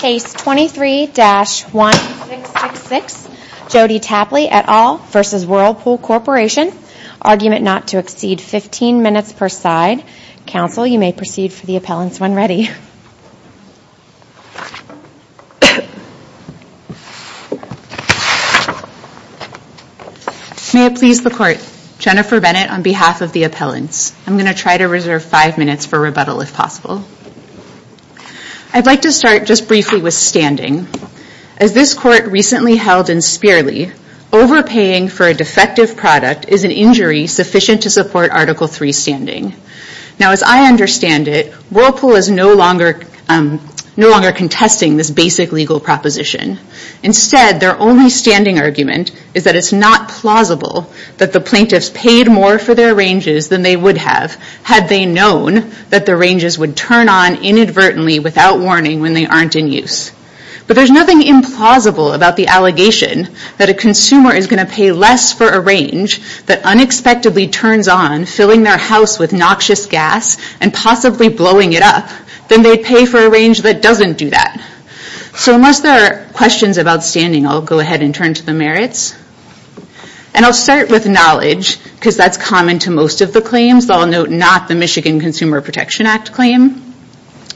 Case 23-1666, Jodi Tapply et al. v. Whirlpool Corporation, argument not to exceed 15 minutes per side. Counsel, you may proceed for the appellants when ready. May it please the court. Jennifer Bennett on behalf of the appellants. I'm going to try to reserve five minutes for rebuttal if possible. I'd like to start just briefly with standing. As this court recently held in Spearley, overpaying for a defective product is an injury sufficient to support Article III standing. Now, as I understand it, Whirlpool is no longer contesting this basic legal proposition. Instead, their only standing argument is that it's not plausible that the plaintiffs paid more for their ranges than they would have had they known that the ranges would turn on inadvertently without warning when they aren't in use. But there's nothing implausible about the allegation that a consumer is going to pay less for a range that unexpectedly turns on, filling their house with noxious gas, and possibly blowing it up, than they'd pay for a range that doesn't do that. So unless there are questions about standing, I'll go ahead and turn to the merits. And I'll start with knowledge, because that's common to most of the claims. I'll note not the Michigan Consumer Protection Act claim.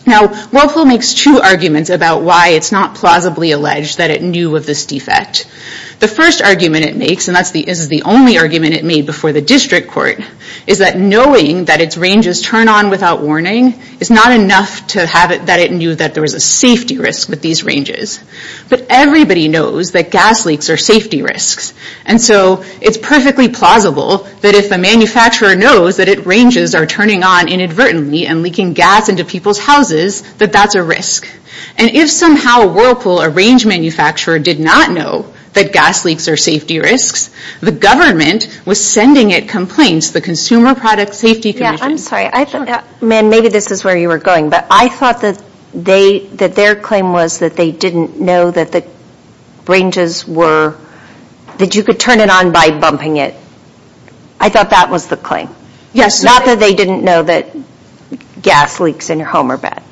Now, Whirlpool makes two arguments about why it's not plausibly alleged that it knew of this defect. The first argument it makes, and this is the only argument it made before the district court, is that knowing that its ranges turn on without warning is not enough to have it that it knew that there was a safety risk with these ranges. But everybody knows that gas leaks are safety risks. And so it's perfectly plausible that if a manufacturer knows that its ranges are turning on inadvertently and leaking gas into people's houses, that that's a risk. And if somehow Whirlpool, a range manufacturer, did not know that gas leaks are safety risks, the government was sending it complaints to the Consumer Product Safety Commission. Yeah, I'm sorry. Man, maybe this is where you were going. But I thought that their claim was that they didn't know that the ranges were, that you could turn it on by bumping it. I thought that was the claim. Yes. Not that they didn't know that gas leaks in your home are bad.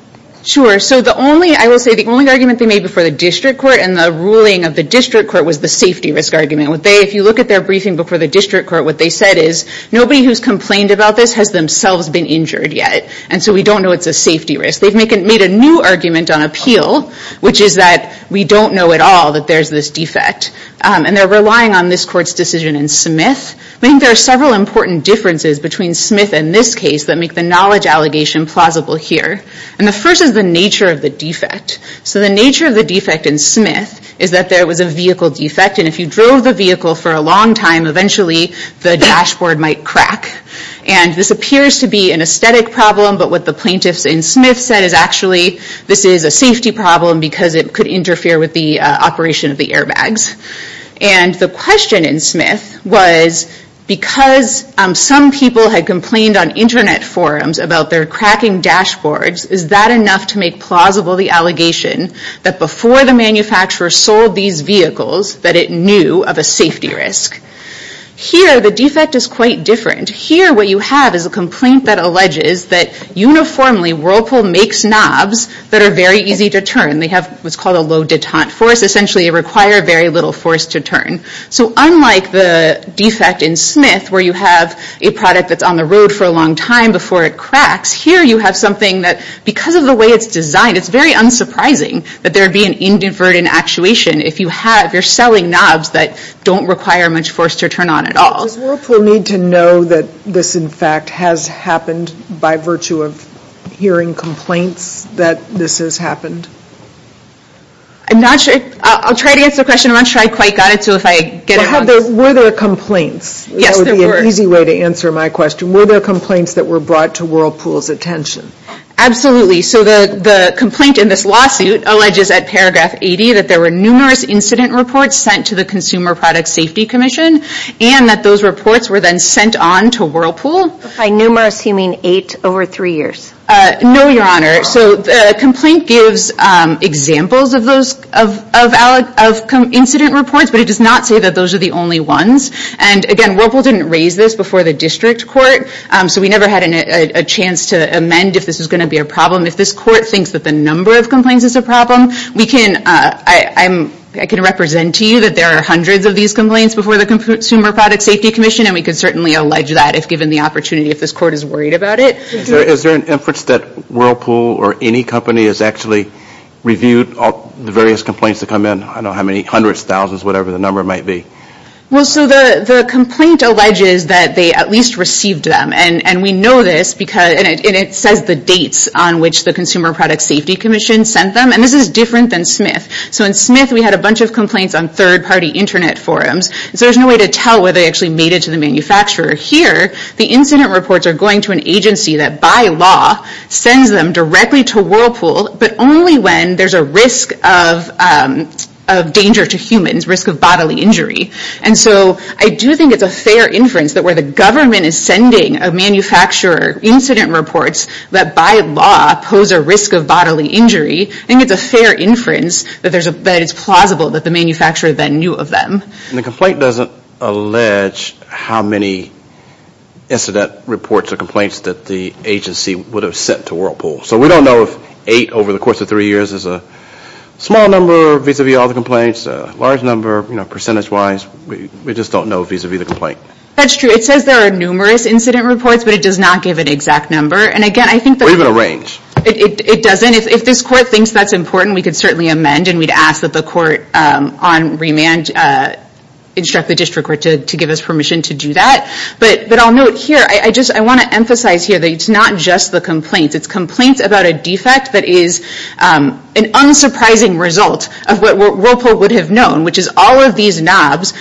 Sure. So the only, I will say, the only argument they made before the district court and the ruling of the district court was the safety risk argument. What they, if you look at their briefing before the district court, what they said is, nobody who's complained about this has themselves been injured yet. And so we don't know it's a safety risk. They've made a new argument on appeal, which is that we don't know at all that there's this defect. And they're relying on this court's decision in Smith. I think there are several important differences between Smith and this case that make the knowledge allegation plausible here. And the first is the nature of the defect. So the nature of the defect in Smith is that there was a vehicle defect. And if you drove the vehicle for a long time, eventually the dashboard might crack. And this appears to be an aesthetic problem. But what the plaintiffs in Smith said is actually, this is a safety problem because it could interfere with the operation of the airbags. And the question in Smith was, because some people had complained on internet forums about their cracking dashboards, is that enough to make plausible the allegation that before the manufacturer sold these vehicles, that it knew of a safety risk. Here, the defect is quite different. Here, what you have is a complaint that alleges that uniformly Whirlpool makes knobs that are very easy to turn. They have what's called a low detente force. Essentially, they require very little force to turn. So unlike the defect in Smith, where you have a product that's on the road for a long time before it cracks, here you have something that, because of the way it's designed, it's very unsurprising that there would be an inadvertent actuation if you're selling knobs that don't require much force to turn on at all. Does Whirlpool need to know that this, in fact, has happened by virtue of hearing complaints that this has happened? I'm not sure. I'll try to answer the question. I'm not sure I quite got it. So if I get it wrong. Were there complaints? That would be an easy way to answer my question. Were there complaints that were brought to Whirlpool's attention? Absolutely. So the complaint in this lawsuit alleges at paragraph 80 that there were numerous incident reports sent to the Consumer Product Safety Commission and that those reports were then sent on to Whirlpool. By numerous, you mean eight over three years? No, Your Honor. So the complaint gives examples of those incident reports, but it does not say that those are the only ones. And again, Whirlpool didn't raise this before the district court, so we never had a chance to amend if this was going to be a problem, if this court thinks that the number of complaints is a problem. I can represent to you that there are hundreds of these complaints before the Consumer Product Safety Commission, and we could certainly allege that if given the opportunity, if this court is worried about it. Is there an inference that Whirlpool or any company has actually reviewed the various complaints that come in? I don't know how many hundreds, thousands, whatever the number might be. Well, so the complaint alleges that they at least received them. And we know this because, and it says the dates on which the Consumer Product Safety Commission sent them. And this is different than Smith. So in Smith, we had a bunch of complaints on third-party internet forums. So there's no way to tell whether they actually made it to the manufacturer. Here, the incident reports are going to an agency that by law sends them directly to Whirlpool, but only when there's a risk of danger to humans, risk of bodily injury. And so I do think it's a fair inference that where the government is sending a manufacturer incident reports that by law pose a risk of bodily injury, I think it's a fair inference that it's plausible that the manufacturer then knew of them. And the complaint doesn't allege how many incident reports or complaints that the agency would have sent to Whirlpool. So we don't know if eight over the course of three years is a small number vis-a-vis all the complaints, a large number, you know, percentage-wise. We just don't know vis-a-vis the complaint. That's true. It says there are numerous incident reports, but it does not give an exact number. And again, I think that... Or even a range. It doesn't. If this court thinks that's important, we could certainly amend and we'd ask that the court on remand instruct the district court to give us permission to do that. But I'll note here, I want to emphasize here that it's not just the complaints. It's complaints about a defect that is an unsurprising result of what Whirlpool would have known, which is all of these knobs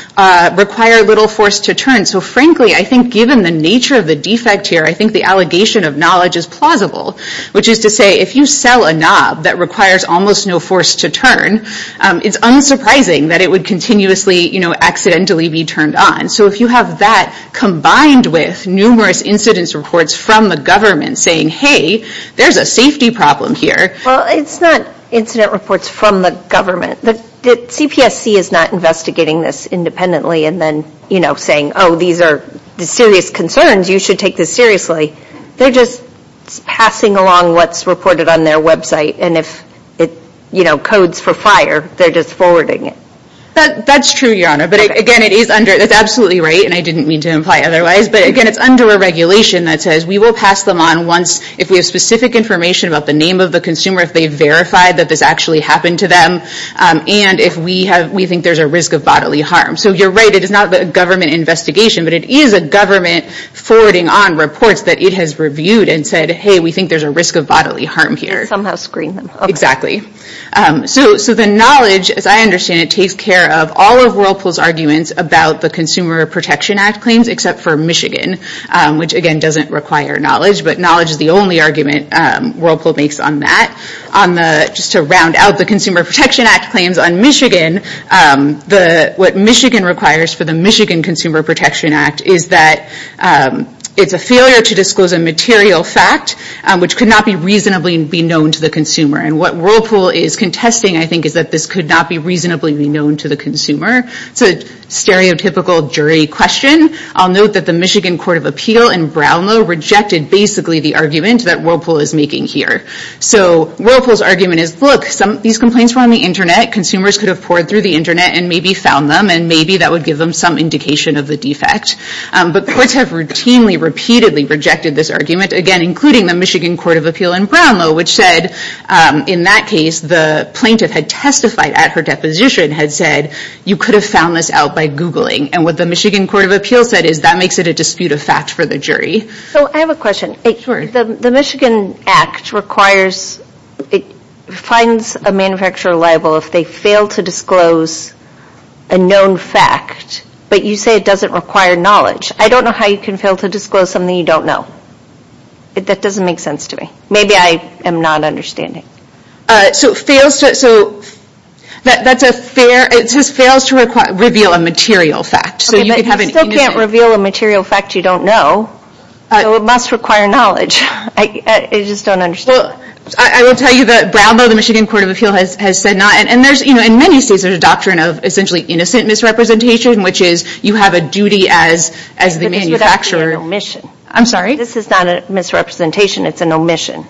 require little force to turn. So frankly, I think given the nature of the defect here, I think the allegation of knowledge is plausible, which is to say, if you sell a knob that requires almost no force to turn, it's unsurprising that it would continuously, you know, accidentally be turned on. So if you have that combined with numerous incident reports from the government saying, hey, there's a safety problem here. Well, it's not incident reports from the government. The CPSC is not investigating this independently and then, you know, saying, oh, these are serious concerns. You should take this seriously. They're just passing along what's reported on their website. And if it, you know, codes for fire, they're just forwarding it. That's true, Your Honor. But again, it is under, that's absolutely right. And I didn't mean to imply otherwise. But again, it's under a regulation that says we will pass them on once if we have specific information about the name of the consumer, if they've verified that this actually happened to them, and if we have, we think there's a risk of bodily harm. So you're right. It is not a government investigation, but it is a government forwarding on reports that it has reviewed and said, hey, we think there's a risk of bodily harm here. It somehow screened them. Exactly. So the knowledge, as I understand it, takes care of all of Whirlpool's arguments about the Consumer Protection Act claims, except for Michigan, which again, doesn't require knowledge. But knowledge is the only argument Whirlpool makes on that. Just to round out the Consumer Protection Act claims on Michigan, what Michigan requires for the Michigan Consumer Protection Act is that it's a failure to disclose a material fact which could not be reasonably known to the consumer. And what Whirlpool is contesting, I think, is that this could not be reasonably known to the consumer. It's a stereotypical jury question. I'll note that the Michigan Court of Appeal in Brownlow rejected basically the argument that Whirlpool is making here. So Whirlpool's argument is, look, these complaints were on the internet. Consumers could have poured through the internet and maybe found them, and maybe that would give them some indication of the defect. But courts have routinely, repeatedly rejected this argument, again, including the Michigan Court of Appeal in Brownlow, which said, in that case, the plaintiff had testified at her deposition, had said, you could have found this out by Googling. And what the Michigan Court of Appeal said is that makes it a dispute of fact for the jury. So I have a question. The Michigan Act requires, it finds a manufacturer liable if they fail to disclose a known fact, but you say it doesn't require knowledge. I don't know how you can fail to disclose something you don't know. That doesn't make sense to me. Maybe I am not understanding. So it fails to, so that's a fair, it just fails to reveal a material fact. So you could have an innovative- Okay, but you still can't reveal a material fact you don't know. So it must require knowledge. I just don't understand. Well, I will tell you that Brownlow, the Michigan Court of Appeal has said not, and there's, you know, in many states, there's a doctrine of essentially innocent misrepresentation, which is you have a duty as the manufacturer- I'm sorry? This is not a misrepresentation. It's an omission.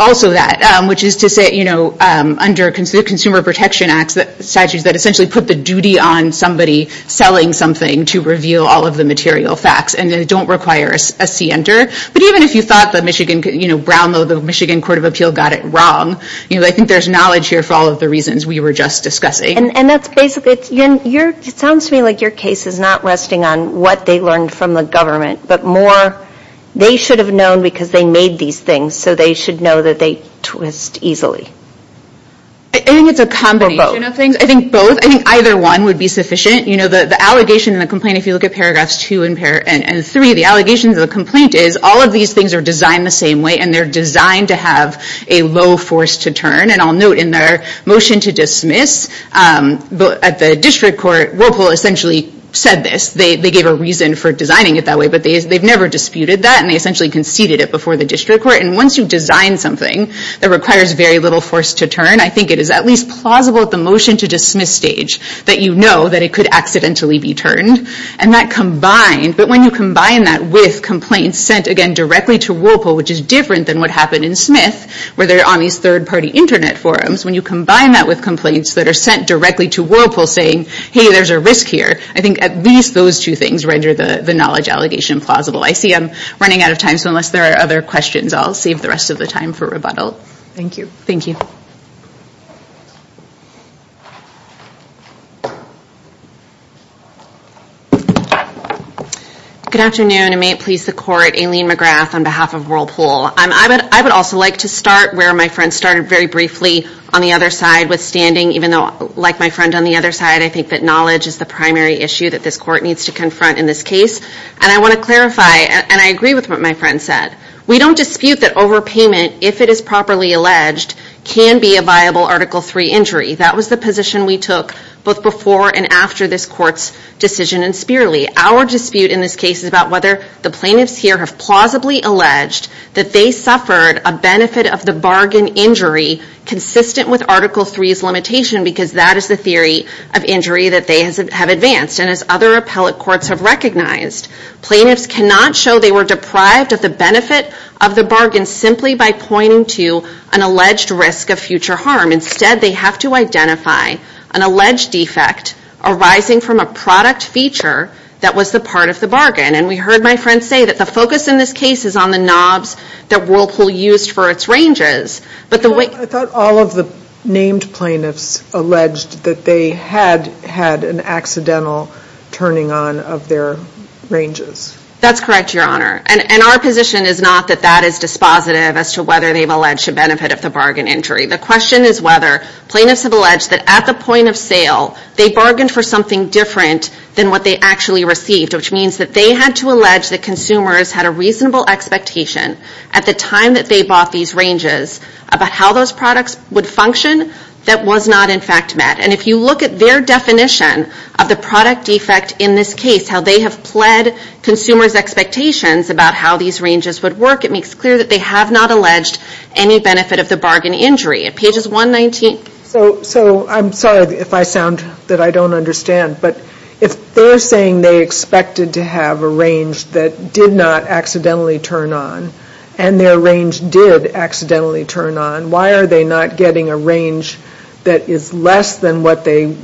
Also that, which is to say, you know, under Consumer Protection Act statutes that essentially put the duty on somebody selling something to reveal all of the material facts. And they don't require a C enter. But even if you thought that Michigan, you know, Brownlow, the Michigan Court of Appeal got it wrong. You know, I think there's knowledge here for all of the reasons we were just discussing. And that's basically, it sounds to me like your case is not resting on what they learned from the government, but more they should have known because they made these things. So they should know that they twist easily. I think it's a combination of things. I think both, I think either one would be sufficient. You know, the allegation and the complaint, if you look at paragraphs two and three, the allegations of the complaint is all of these things are designed the same way. And they're designed to have a low force to turn. And I'll note in their motion to dismiss, at the district court, Whirlpool essentially said this. They gave a reason for designing it that way. But they've never disputed that. And they essentially conceded it before the district court. And once you design something that requires very little force to turn, I think it is at least plausible at the motion to dismiss stage that you know that it could accidentally be turned. And that combined, but when you combine that with complaints sent again directly to Whirlpool, which is different than what happened in Smith, where they're on these third-party internet forums, when you combine that with complaints that are sent directly to Whirlpool saying, hey, there's a risk here. I think at least those two things render the knowledge allegation plausible. I see I'm running out of time. So unless there are other questions, I'll save the rest of the time for rebuttal. Thank you. Good afternoon. And may it please the court, Aileen McGrath on behalf of Whirlpool. I would also like to start where my friend started very briefly on the other side withstanding, even though like my friend on the other side, I think that knowledge is the primary issue that this court needs to confront in this case. And I want to clarify, and I agree with what my friend said. We don't dispute that overpayment, if it is properly alleged, can be a viable Article III injury. That was the position we took both before and after this court's decision in Spearley. Our dispute in this case is about whether the plaintiffs here have plausibly alleged that they suffered a benefit of the bargain injury consistent with Article III's limitation, because that is the theory of injury that they have advanced. And as other appellate courts have recognized, plaintiffs cannot show they were deprived of the benefit of the bargain simply by pointing to an alleged risk of future harm. Instead, they have to identify an alleged defect arising from a product feature that was the part of the bargain. And we heard my friend say that the focus in this case is on the knobs that Whirlpool used for its ranges. But the way- I thought all of the named plaintiffs alleged that they had had an accidental turning on of their ranges. That's correct, Your Honor. And our position is not that that is dispositive as to whether they've alleged a benefit of the bargain injury. The question is whether plaintiffs have alleged that at the point of sale, they bargained for something different than what they actually received, which means that they had to allege that consumers had a reasonable expectation at the time that they bought these ranges about how those products would function that was not in fact met. And if you look at their definition of the product defect in this case, how they have pled consumers' expectations about how these ranges would work, it makes clear that they have not alleged any benefit of the bargain injury. At pages 119- So I'm sorry if I sound that I don't understand, but if they're saying they expected to have a range that did not accidentally turn on and their range did accidentally turn on, why are they not getting a range that is less than what they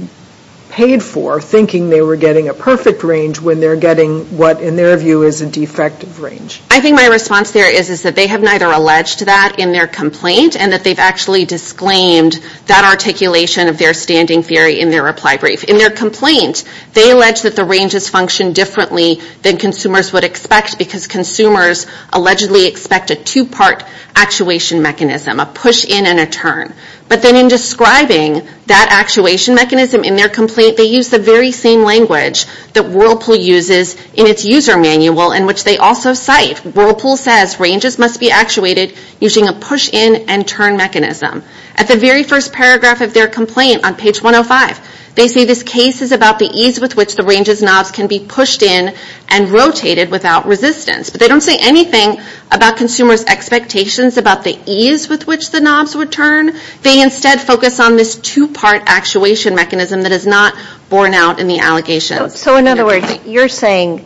paid for, thinking they were getting a perfect range when they're getting what in their view is a defective range? I think my response there is that they have neither alleged that in their complaint and that they've actually disclaimed that articulation of their standing theory in their reply brief. In their complaint, they allege that the ranges function differently than consumers would expect because consumers allegedly expect a two-part actuation mechanism, a push in and a turn. But then in describing that actuation mechanism in their complaint, they use the very same language that Whirlpool uses in its user manual in which they also cite. Whirlpool says ranges must be actuated using a push in and turn mechanism. At the very first paragraph of their complaint on page 105, they say this case is about the ease with which the ranges knobs can be pushed in and rotated without resistance. But they don't say anything about consumers' expectations about the ease with which the knobs would turn. They instead focus on this two-part actuation mechanism that is not borne out in the allegation. So in other words, you're saying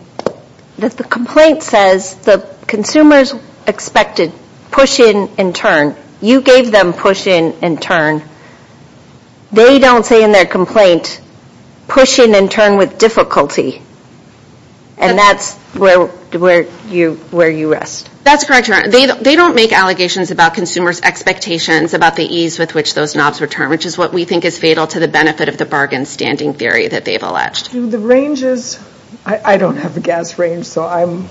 that the complaint says the consumers expected push in and turn. You gave them push in and turn. They don't say in their complaint, push in and turn with difficulty. And that's where you rest. That's correct, Your Honor. They don't make allegations about consumers' expectations about the ease with which those knobs return, which is what we think is fatal to the benefit of the bargain standing theory that they've alleged. Do the ranges, I don't have a gas range, so I'm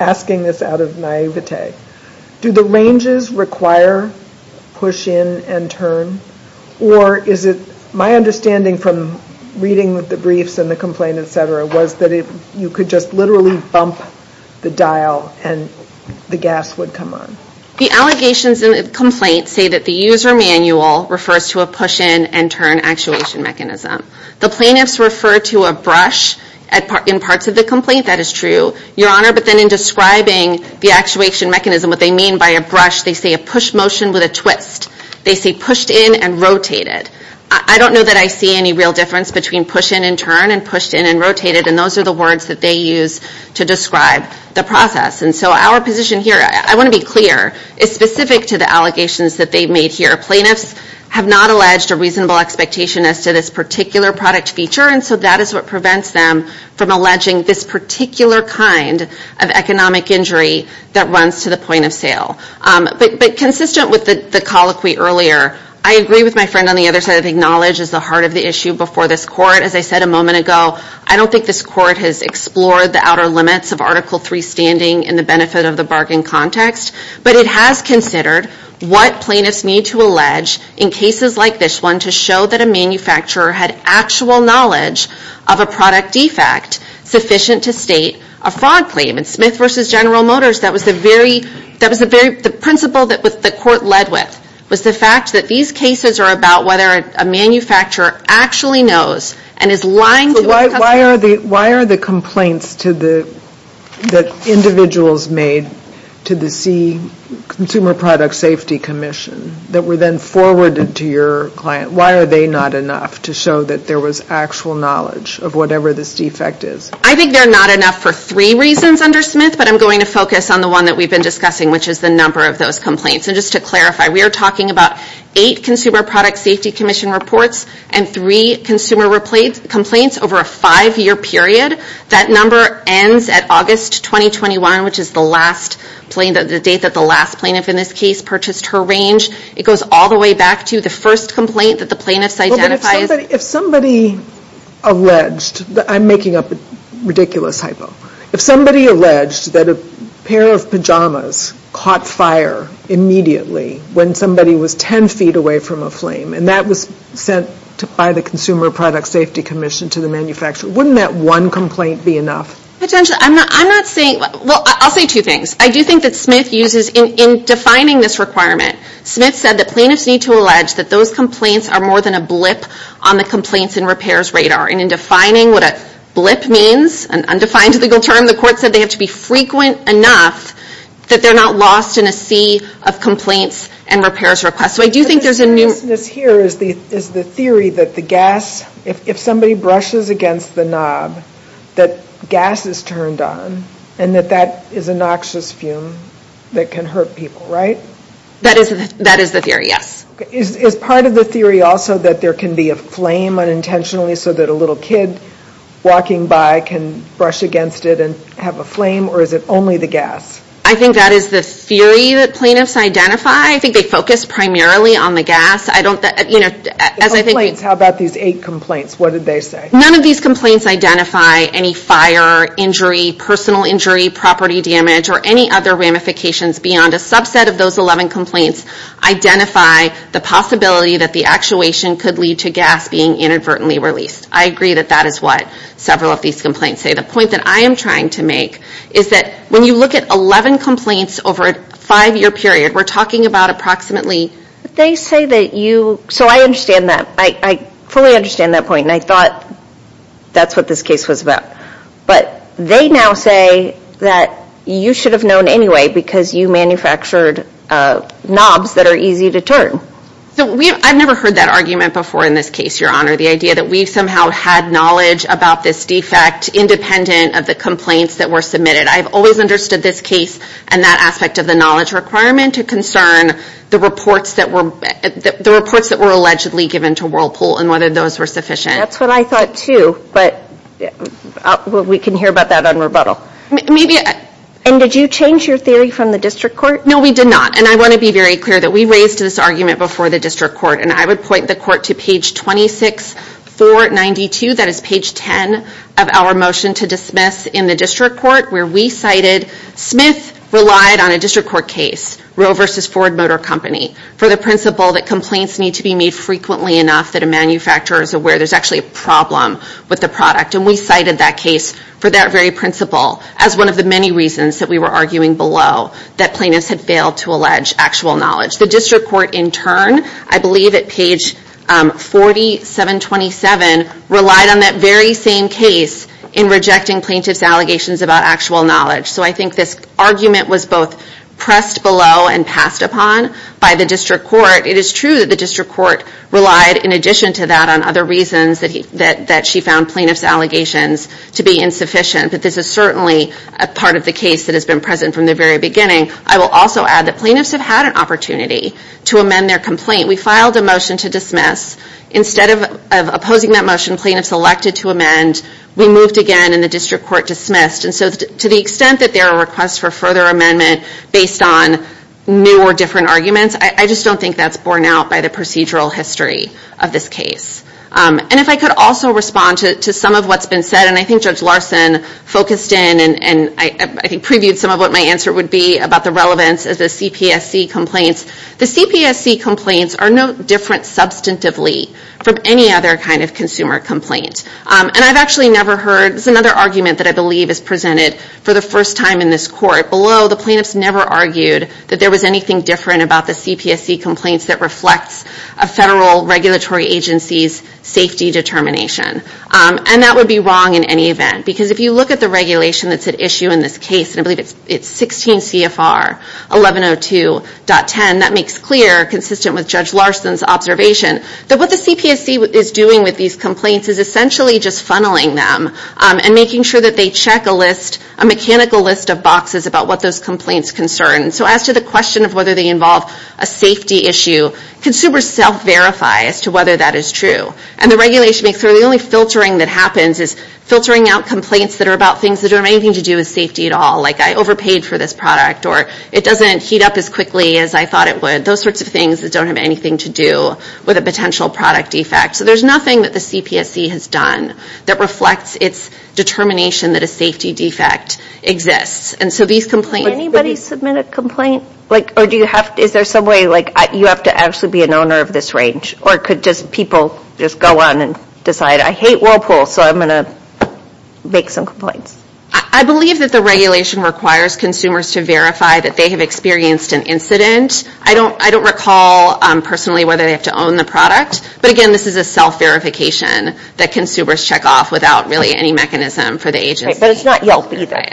asking this out of naivete. Do the ranges require push in and turn? Or is it my understanding from reading the briefs and the complaint, et cetera, was that you could just literally bump the dial and the gas would come on? The allegations in the complaint say that the user manual refers to a push in and turn actuation mechanism. The plaintiffs refer to a brush in parts of the complaint. That is true, Your Honor. But then in describing the actuation mechanism, what they mean by a brush, they say a push motion with a twist. They say pushed in and rotated. I don't know that I see any real difference between push in and turn and pushed in and rotated. And those are the words that they use to describe the process. And so our position here, I want to be clear, is specific to the allegations that they've made here. Plaintiffs have not alleged a reasonable expectation as to this particular product feature. And so that is what prevents them from alleging this particular kind of economic injury that runs to the point of sale. But consistent with the colloquy earlier, I agree with my friend on the other side of acknowledge is the heart of the issue before this court. As I said a moment ago, I don't think this court has explored the outer limits of Article III standing in the benefit of the bargain context. But it has considered what plaintiffs need to allege in cases like this one to show that a manufacturer had actual knowledge of a product defect sufficient to state a fraud claim. And Smith v. General Motors, that was the principle that the court led with was the fact that these cases are about whether a manufacturer actually knows and is lying. Why are the complaints that individuals made to the Consumer Product Safety Commission that were then forwarded to your client, why are they not enough to show that there was actual knowledge of whatever this defect is? I think they're not enough for three reasons under Smith, but I'm going to focus on the one that we've been discussing, which is the number of those complaints. And just to clarify, we are talking about eight Consumer Product Safety Commission reports and three consumer complaints over a five-year period. That number ends at August 2021, which is the last plaintiff, the date that the last plaintiff in this case purchased her range. It goes all the way back to the first complaint that the plaintiffs identify. If somebody alleged, I'm making up a ridiculous hypo, if somebody alleged that a pair of pajamas caught fire immediately when somebody was 10 feet away from a flame and that was sent by the Consumer Product Safety Commission to the manufacturer, wouldn't that one complaint be enough? Potentially, I'm not saying, well, I'll say two things. I do think that Smith uses, in defining this requirement, Smith said that plaintiffs need to allege that those complaints are more than a blip on the complaints and repairs radar. And in defining what a blip means, an undefined legal term, the court said they have to be frequent enough that they're not lost in a sea of complaints and repairs requests. So I do think there's a- The seriousness here is the theory that the gas, if somebody brushes against the knob, that gas is turned on and that that is a noxious fume that can hurt people, right? That is the theory, yes. Is part of the theory also that there can be a flame unintentionally so that a little kid walking by can brush against it and have a flame or is it only the gas? I think that is the theory that plaintiffs identify. I think they focus primarily on the gas. I don't, you know, as I think- How about these eight complaints? What did they say? None of these complaints identify any fire, injury, personal injury, property damage, or any other ramifications beyond a subset of those 11 complaints identify the possibility that the actuation could lead to gas being inadvertently released. I agree that that is what several of these complaints say. The point that I am trying to make is that when you look at 11 complaints over a five-year period, we're talking about approximately- They say that you- So I understand that. I fully understand that point. And I thought that's what this case was about. But they now say that you should have known anyway because you manufactured knobs that are easy to turn. So we- I've never heard that argument before in this case, Your Honor. The idea that we somehow had knowledge about this defect independent of the complaints that were submitted. I've always understood this case and that aspect of the knowledge requirement to concern the reports that were- the reports that were allegedly given to Whirlpool and whether those were sufficient. That's what I thought too. But we can hear about that on rebuttal. Maybe- And did you change your theory from the district court? No, we did not. And I want to be very clear that we raised this argument before the district court. And I would point the court to page 26, 492. That is page 10 of our motion to dismiss in the district court where we cited- Smith relied on a district court case, Roe versus Ford Motor Company, for the principle that complaints need to be made frequently enough that a manufacturer is aware there's actually a problem with the product. And we cited that case for that very principle as one of the many reasons that we were arguing below that plaintiffs had failed to allege actual knowledge. The district court in turn, I believe at page 4727 relied on that very same case in rejecting plaintiff's allegations about actual knowledge. So I think this argument was both pressed below and passed upon by the district court. It is true that the district court relied in addition to that on other reasons that she found plaintiff's allegations to be insufficient. But this is certainly a part of the case that has been present from the very beginning. I will also add that plaintiffs have had an opportunity to amend their complaint. We filed a motion to dismiss. Instead of opposing that motion, plaintiffs elected to amend. We moved again and the district court dismissed. And so to the extent that there are requests for further amendment based on new or different arguments, I just don't think that's borne out by the procedural history of this case. And if I could also respond to some of what's been said, and I think Judge Larson focused in and I think previewed some of what my answer would be about the relevance of the CPSC complaints. The CPSC complaints are no different substantively from any other kind of consumer complaint. And I've actually never heard, it's another argument that I believe is presented for the first time in this court. Below, the plaintiffs never argued that there was anything different about the CPSC complaints that reflects a federal regulatory agency's safety determination. And that would be wrong in any event, because if you look at the regulation that's at issue in this case, and I believe it's 16 CFR 1102.10, that makes clear, consistent with Judge Larson's observation, that what the CPSC is doing with these complaints is essentially just funneling them and making sure that they check a list, a mechanical list of boxes about what those complaints concern. So as to the question of whether they involve a safety issue, consumers self-verify as to whether that is true. And the regulation makes sure the only filtering that happens is filtering out complaints that are about things that don't have anything to do with safety at all. Like I overpaid for this product, or it doesn't heat up as quickly as I thought it would. Those sorts of things that don't have anything to do with a potential product defect. So there's nothing that the CPSC has done that reflects its determination that a safety defect exists. And so these complaints- Can anybody submit a complaint? Like, or do you have, is there some way, like you have to actually be an owner of this range? Or could just people just go on and decide, I hate Whirlpool, so I'm going to make some complaints. I believe that the regulation requires consumers to verify that they have experienced an incident. I don't recall personally whether they have to own the product. But again, this is a self-verification that consumers check off without really any mechanism for the agency. But it's not Yelp either.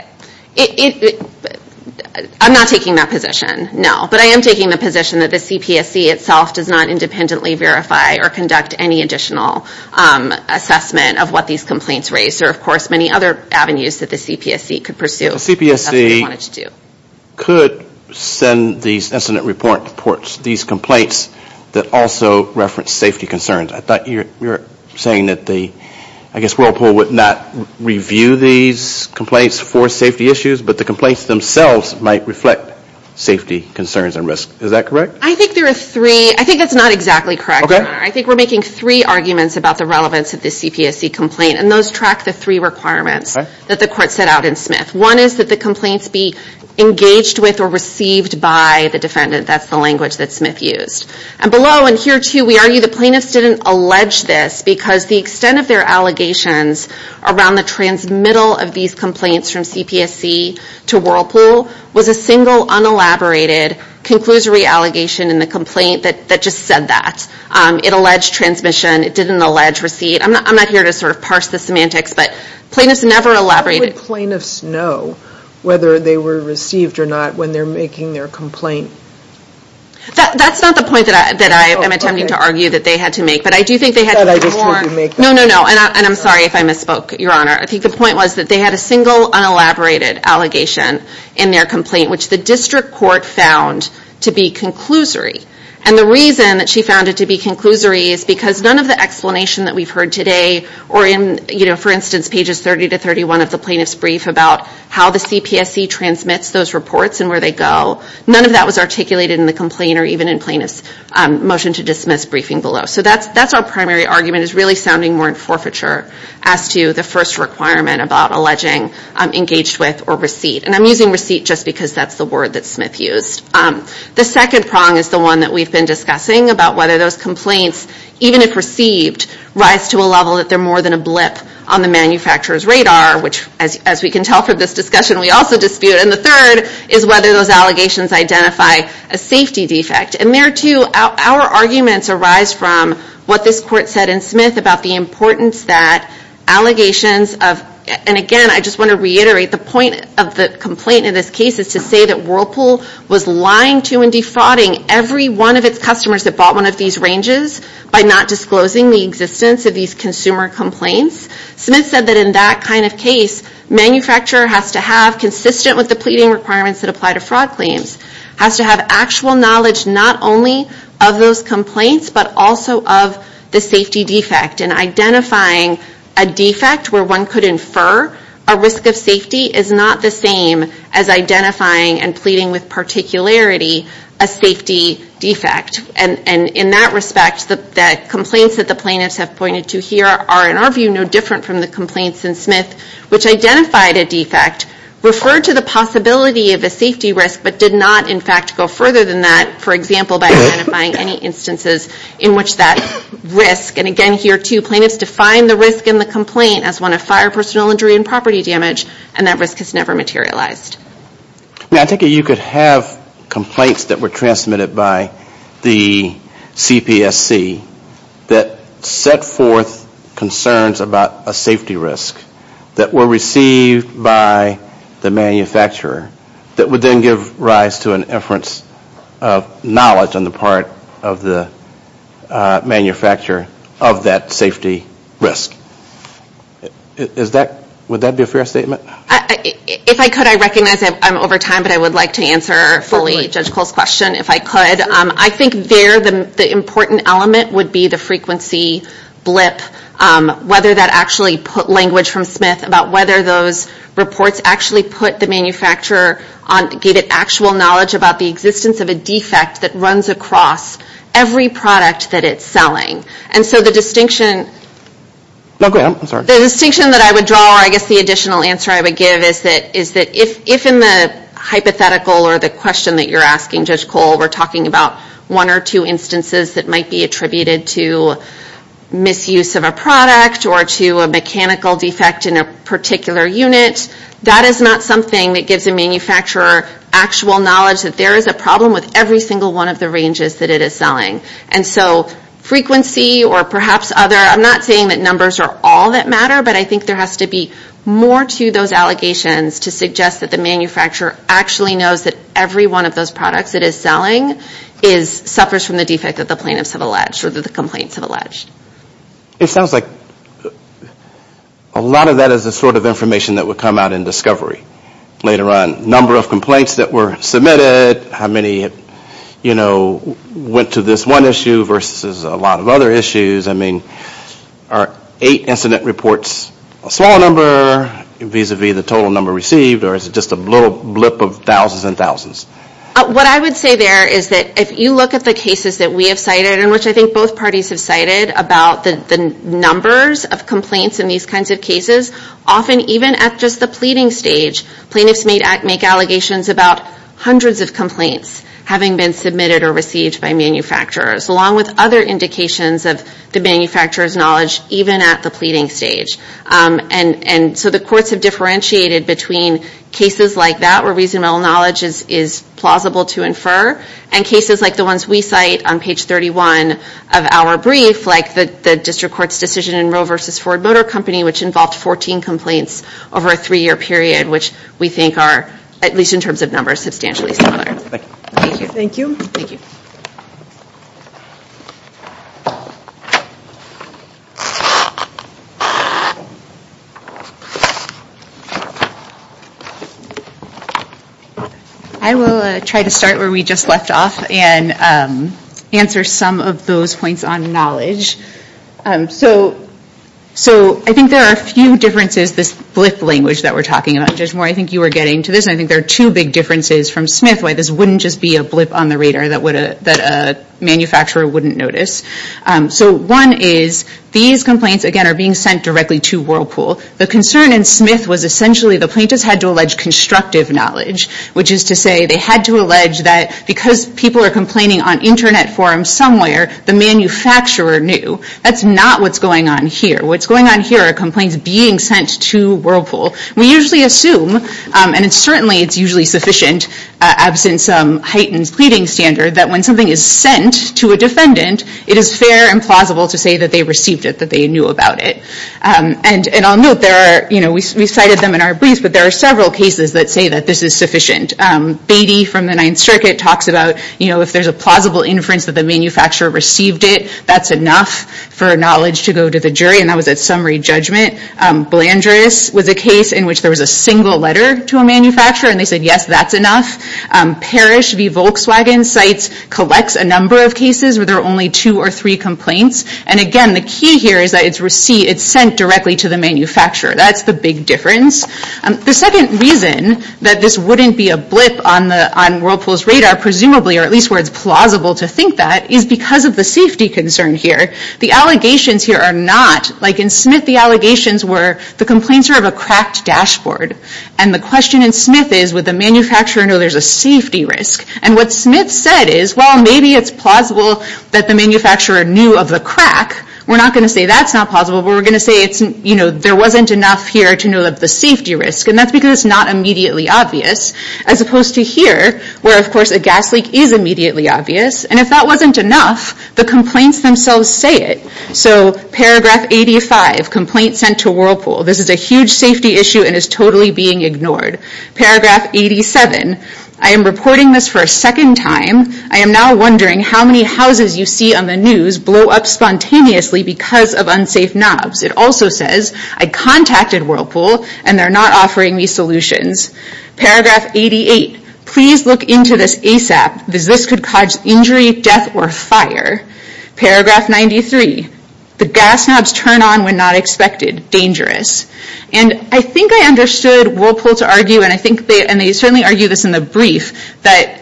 I'm not taking that position, no. But I am taking the position that the CPSC itself does not independently verify or conduct any additional assessment of what these complaints raise. There are, of course, many other avenues that the CPSC could pursue. The CPSC could send these incident reports, these complaints that also reference safety concerns. I thought you were saying that the, I guess, Whirlpool would not review these complaints for safety issues, but the complaints themselves might reflect safety concerns and risk. Is that correct? I think there are three. I think that's not exactly correct. I think we're making three arguments about the relevance of the CPSC complaint. And those track the three requirements that the court set out in Smith. One is that the complaints be engaged with or received by the defendant. That's the language that Smith used. And below, and here too, we argue the plaintiffs didn't allege this because the extent of their allegations around the transmittal of these complaints from CPSC to Whirlpool was a single, unelaborated, conclusory allegation in the complaint that just said that. It alleged transmission. It didn't allege receipt. I'm not here to sort of parse the semantics, but plaintiffs never elaborated. How would plaintiffs know whether they were received or not when they're making their complaint? That's not the point that I am attempting to argue that they had to make. But I do think they had to make more. No, no, no. And I'm sorry if I misspoke, Your Honor. I think the point was that they had a single, unelaborated allegation in their complaint, which the district court found to be conclusory. And the reason that she found it to be conclusory is because none of the explanation that we've heard today or in, for instance, pages 30 to 31 of the plaintiff's brief about how the CPSC transmits those reports and where they go, none of that was articulated in the complaint or even in plaintiff's motion to dismiss briefing below. So that's our primary argument is really sounding more in forfeiture as to the first requirement about alleging engaged with or receipt. And I'm using receipt just because that's the word that Smith used. The second prong is the one that we've been discussing about whether those complaints, even if received, rise to a level that they're more than a blip on the manufacturer's radar, which as we can tell from this discussion, we also dispute. And the third is whether those allegations identify a safety defect. And there too, our arguments arise from what this court said in Smith about the importance that allegations of, and again, I just want to reiterate the point of the complaint in this case is to say that Whirlpool was lying to and defrauding every one of its customers that bought one of these ranges by not disclosing the existence of these consumer complaints. Smith said that in that kind of case, manufacturer has to have, consistent with the pleading requirements that apply to fraud claims, has to have actual knowledge not only of those complaints, but also of the safety defect and identifying a defect where one could infer a risk of safety is not the same as identifying and pleading with particularity a safety defect. And in that respect, the complaints that the plaintiffs have pointed to here are in our view, no different from the complaints in Smith, which identified a defect, referred to the possibility of a safety risk, but did not in fact, go further than that, for example, by identifying any instances in which that risk. And again, here too, plaintiffs define the risk in the complaint as one of fire, personal injury, and property damage. And that risk has never materialized. I think you could have complaints that were transmitted by the CPSC that set forth concerns about a safety risk that were received by the manufacturer that would then give rise to an inference of knowledge on the part of the manufacturer of that safety risk. Would that be a fair statement? If I could, I recognize I'm over time, but I would like to answer fully Judge Cole's question. I think there, the important element would be the frequency blip, whether that actually put language from Smith about whether those reports actually put the manufacturer on, gave it actual knowledge about the existence of a defect that runs across every product that it's selling. And so the distinction... No, go ahead. I'm sorry. The distinction that I would draw, or I guess the additional answer I would give is that if in the hypothetical or the question that you're asking, we're talking about one or two instances that might be attributed to misuse of a product or to a mechanical defect in a particular unit, that is not something that gives a manufacturer actual knowledge that there is a problem with every single one of the ranges that it is selling. And so frequency or perhaps other, I'm not saying that numbers are all that matter, but I think there has to be more to those allegations to suggest that the manufacturer actually knows that every one of those products it is selling suffers from the defect that the plaintiffs have alleged or that the complaints have alleged. It sounds like a lot of that is the sort of information that would come out in discovery later on. Number of complaints that were submitted, how many went to this one issue versus a lot of other issues. I mean, are eight incident reports a small number vis-a-vis the total number received or is it just a little blip of thousands and thousands? What I would say there is that if you look at the cases that we have cited and which I think both parties have cited about the numbers of complaints in these kinds of cases, often even at just the pleading stage, plaintiffs may make allegations about hundreds of complaints having been submitted or received by manufacturers along with other indications of the manufacturer's knowledge even at the pleading stage. And so the courts have differentiated between cases like that where reasonable knowledge is plausible to infer and cases like the ones we cite on page 31 of our brief like the district court's decision in Roe versus Ford Motor Company which involved 14 complaints over a three-year period which we think are, at least in terms of numbers, substantially similar. Thank you. Thank you. Thank you. I will try to start where we just left off and answer some of those points on knowledge. So I think there are a few differences, this blip language that we're talking about, Judge Moore, I think you were getting to this. I think there are two big differences from Smith why this wouldn't just be a blip on the radar that a manufacturer wouldn't notice. So one is these complaints, again, are being sent directly to Whirlpool. The concern in Smith was essentially the plaintiffs had to allege constructive knowledge which is to say they had to allege that because people are complaining on internet forums somewhere, the manufacturer knew that's not what's going on here. What's going on here are complaints being sent to Whirlpool. We usually assume, and it's certainly, it's usually sufficient absent some heightened pleading standard that when something is sent to a defendant, it is fair and plausible to say that they received it, that they knew about it. And I'll note there are, you know, we cited them in our brief but there are several cases that say that this is sufficient. Beatty from the Ninth Circuit talks about, you know, if there's a plausible inference that the manufacturer received it, that's enough for knowledge to go to the jury and that was at summary judgment. Blandris was a case in which there was a single letter to a manufacturer and they said, yes, that's enough. Parrish v. Volkswagen cites, collects a number of cases where there are only two or three complaints. And again, the key here is that it's sent directly to the manufacturer. That's the big difference. The second reason that this wouldn't be a blip on the, on Whirlpool's radar, presumably, or at least where it's plausible to think that, is because of the safety concern here. The allegations here are not, like in Smith, the allegations were the complaints are of a cracked dashboard. And the question in Smith is, would the manufacturer know there's a safety risk? And what Smith said is, well, maybe it's plausible that the manufacturer knew of the crack. We're not going to say that's not plausible, but we're going to say it's, you know, there wasn't enough here to know of the safety risk. And that's because it's not immediately obvious, as opposed to here, where, of course, a gas leak is immediately obvious. And if that wasn't enough, the complaints themselves say it. So paragraph 85, complaint sent to Whirlpool. This is a huge safety issue and is totally being ignored. Paragraph 87, I am reporting this for a second time. I am now wondering how many houses you see on the news blow up spontaneously because of unsafe knobs. It also says, I contacted Whirlpool and they're not offering me solutions. Paragraph 88, please look into this ASAP, because this could cause injury, death, or fire. Paragraph 93, the gas knobs turn on when not expected. Dangerous. And I think I understood Whirlpool to argue, and I think they, and they certainly argue this in the brief, that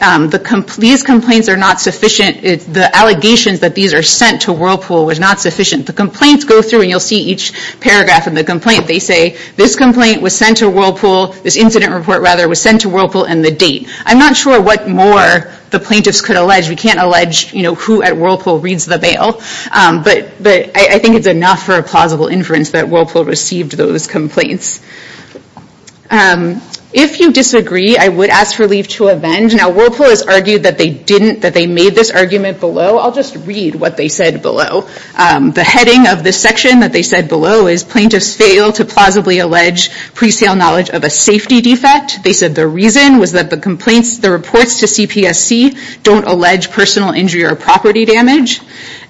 these complaints are not sufficient. The allegations that these are sent to Whirlpool was not sufficient. The complaints go through and you'll see each paragraph in the complaint, they say, this complaint was sent to Whirlpool, this incident report, rather, was sent to Whirlpool and the date. I'm not sure what more the plaintiffs could allege. We can't allege, you know, who at Whirlpool reads the bail, but I think it's enough for a plausible inference that Whirlpool received those complaints. If you disagree, I would ask for leave to avenge. Now Whirlpool has argued that they didn't, that they made this argument below. I'll just read what they said below. The heading of this section that they said below is plaintiffs fail to plausibly allege presale knowledge of a safety defect. They said the reason was that the complaints, the reports to CPSC don't allege personal injury or property damage.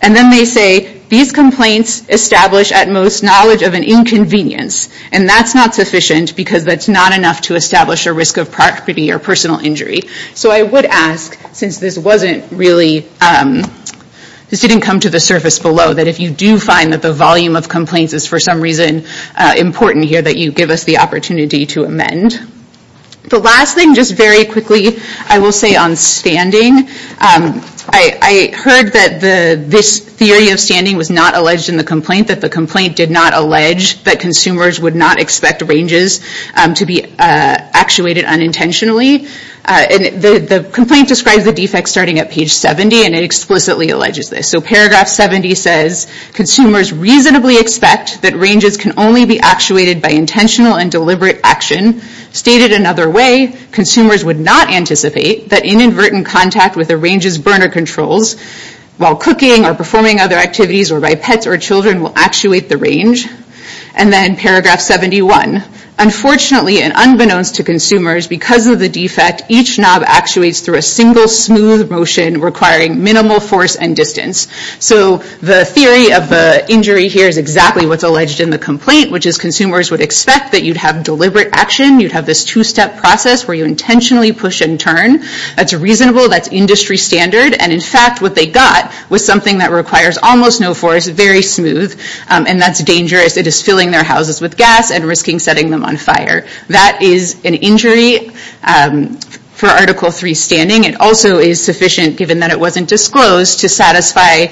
And then they say, these complaints establish at most knowledge of an inconvenience and that's not sufficient because that's not enough to establish a risk of property or personal injury. So I would ask, since this wasn't really, this didn't come to the surface below, that if you do find that the volume of complaints is for some reason important here, that you give us the opportunity to amend. The last thing, just very quickly, I will say on standing, I heard that this theory of standing was not alleged in the complaint, that the complaint did not allege that consumers would not expect ranges to be actuated unintentionally. And the complaint describes the defects starting at page 70 and it explicitly alleges this. So paragraph 70 says, consumers reasonably expect that ranges can only be actuated by intentional and deliberate action. Stated another way, consumers would not anticipate that inadvertent contact with a range's burner controls while cooking or performing other activities or by pets or children will actuate the range. And then paragraph 71, unfortunately, and unbeknownst to consumers, because of the defect, each knob actuates through a single smooth motion requiring minimal force and distance. So the theory of the injury here is exactly what's alleged in the complaint, which is consumers would expect that you'd have deliberate action. You'd have this two-step process where you intentionally push and turn. That's a reasonable, that's industry standard. And in fact, what they got was something that requires almost no force, very smooth, and that's dangerous. It is filling their houses with gas and risking setting them on fire. That is an injury for article three standing. It also is sufficient, given that it wasn't disclosed to satisfy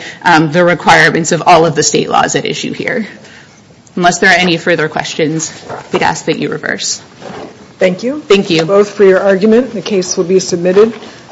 the requirements of all of the state laws at issue here. Unless there are any further questions, I'd ask that you reverse. Thank you. Thank you. Both for your argument. The case will be submitted.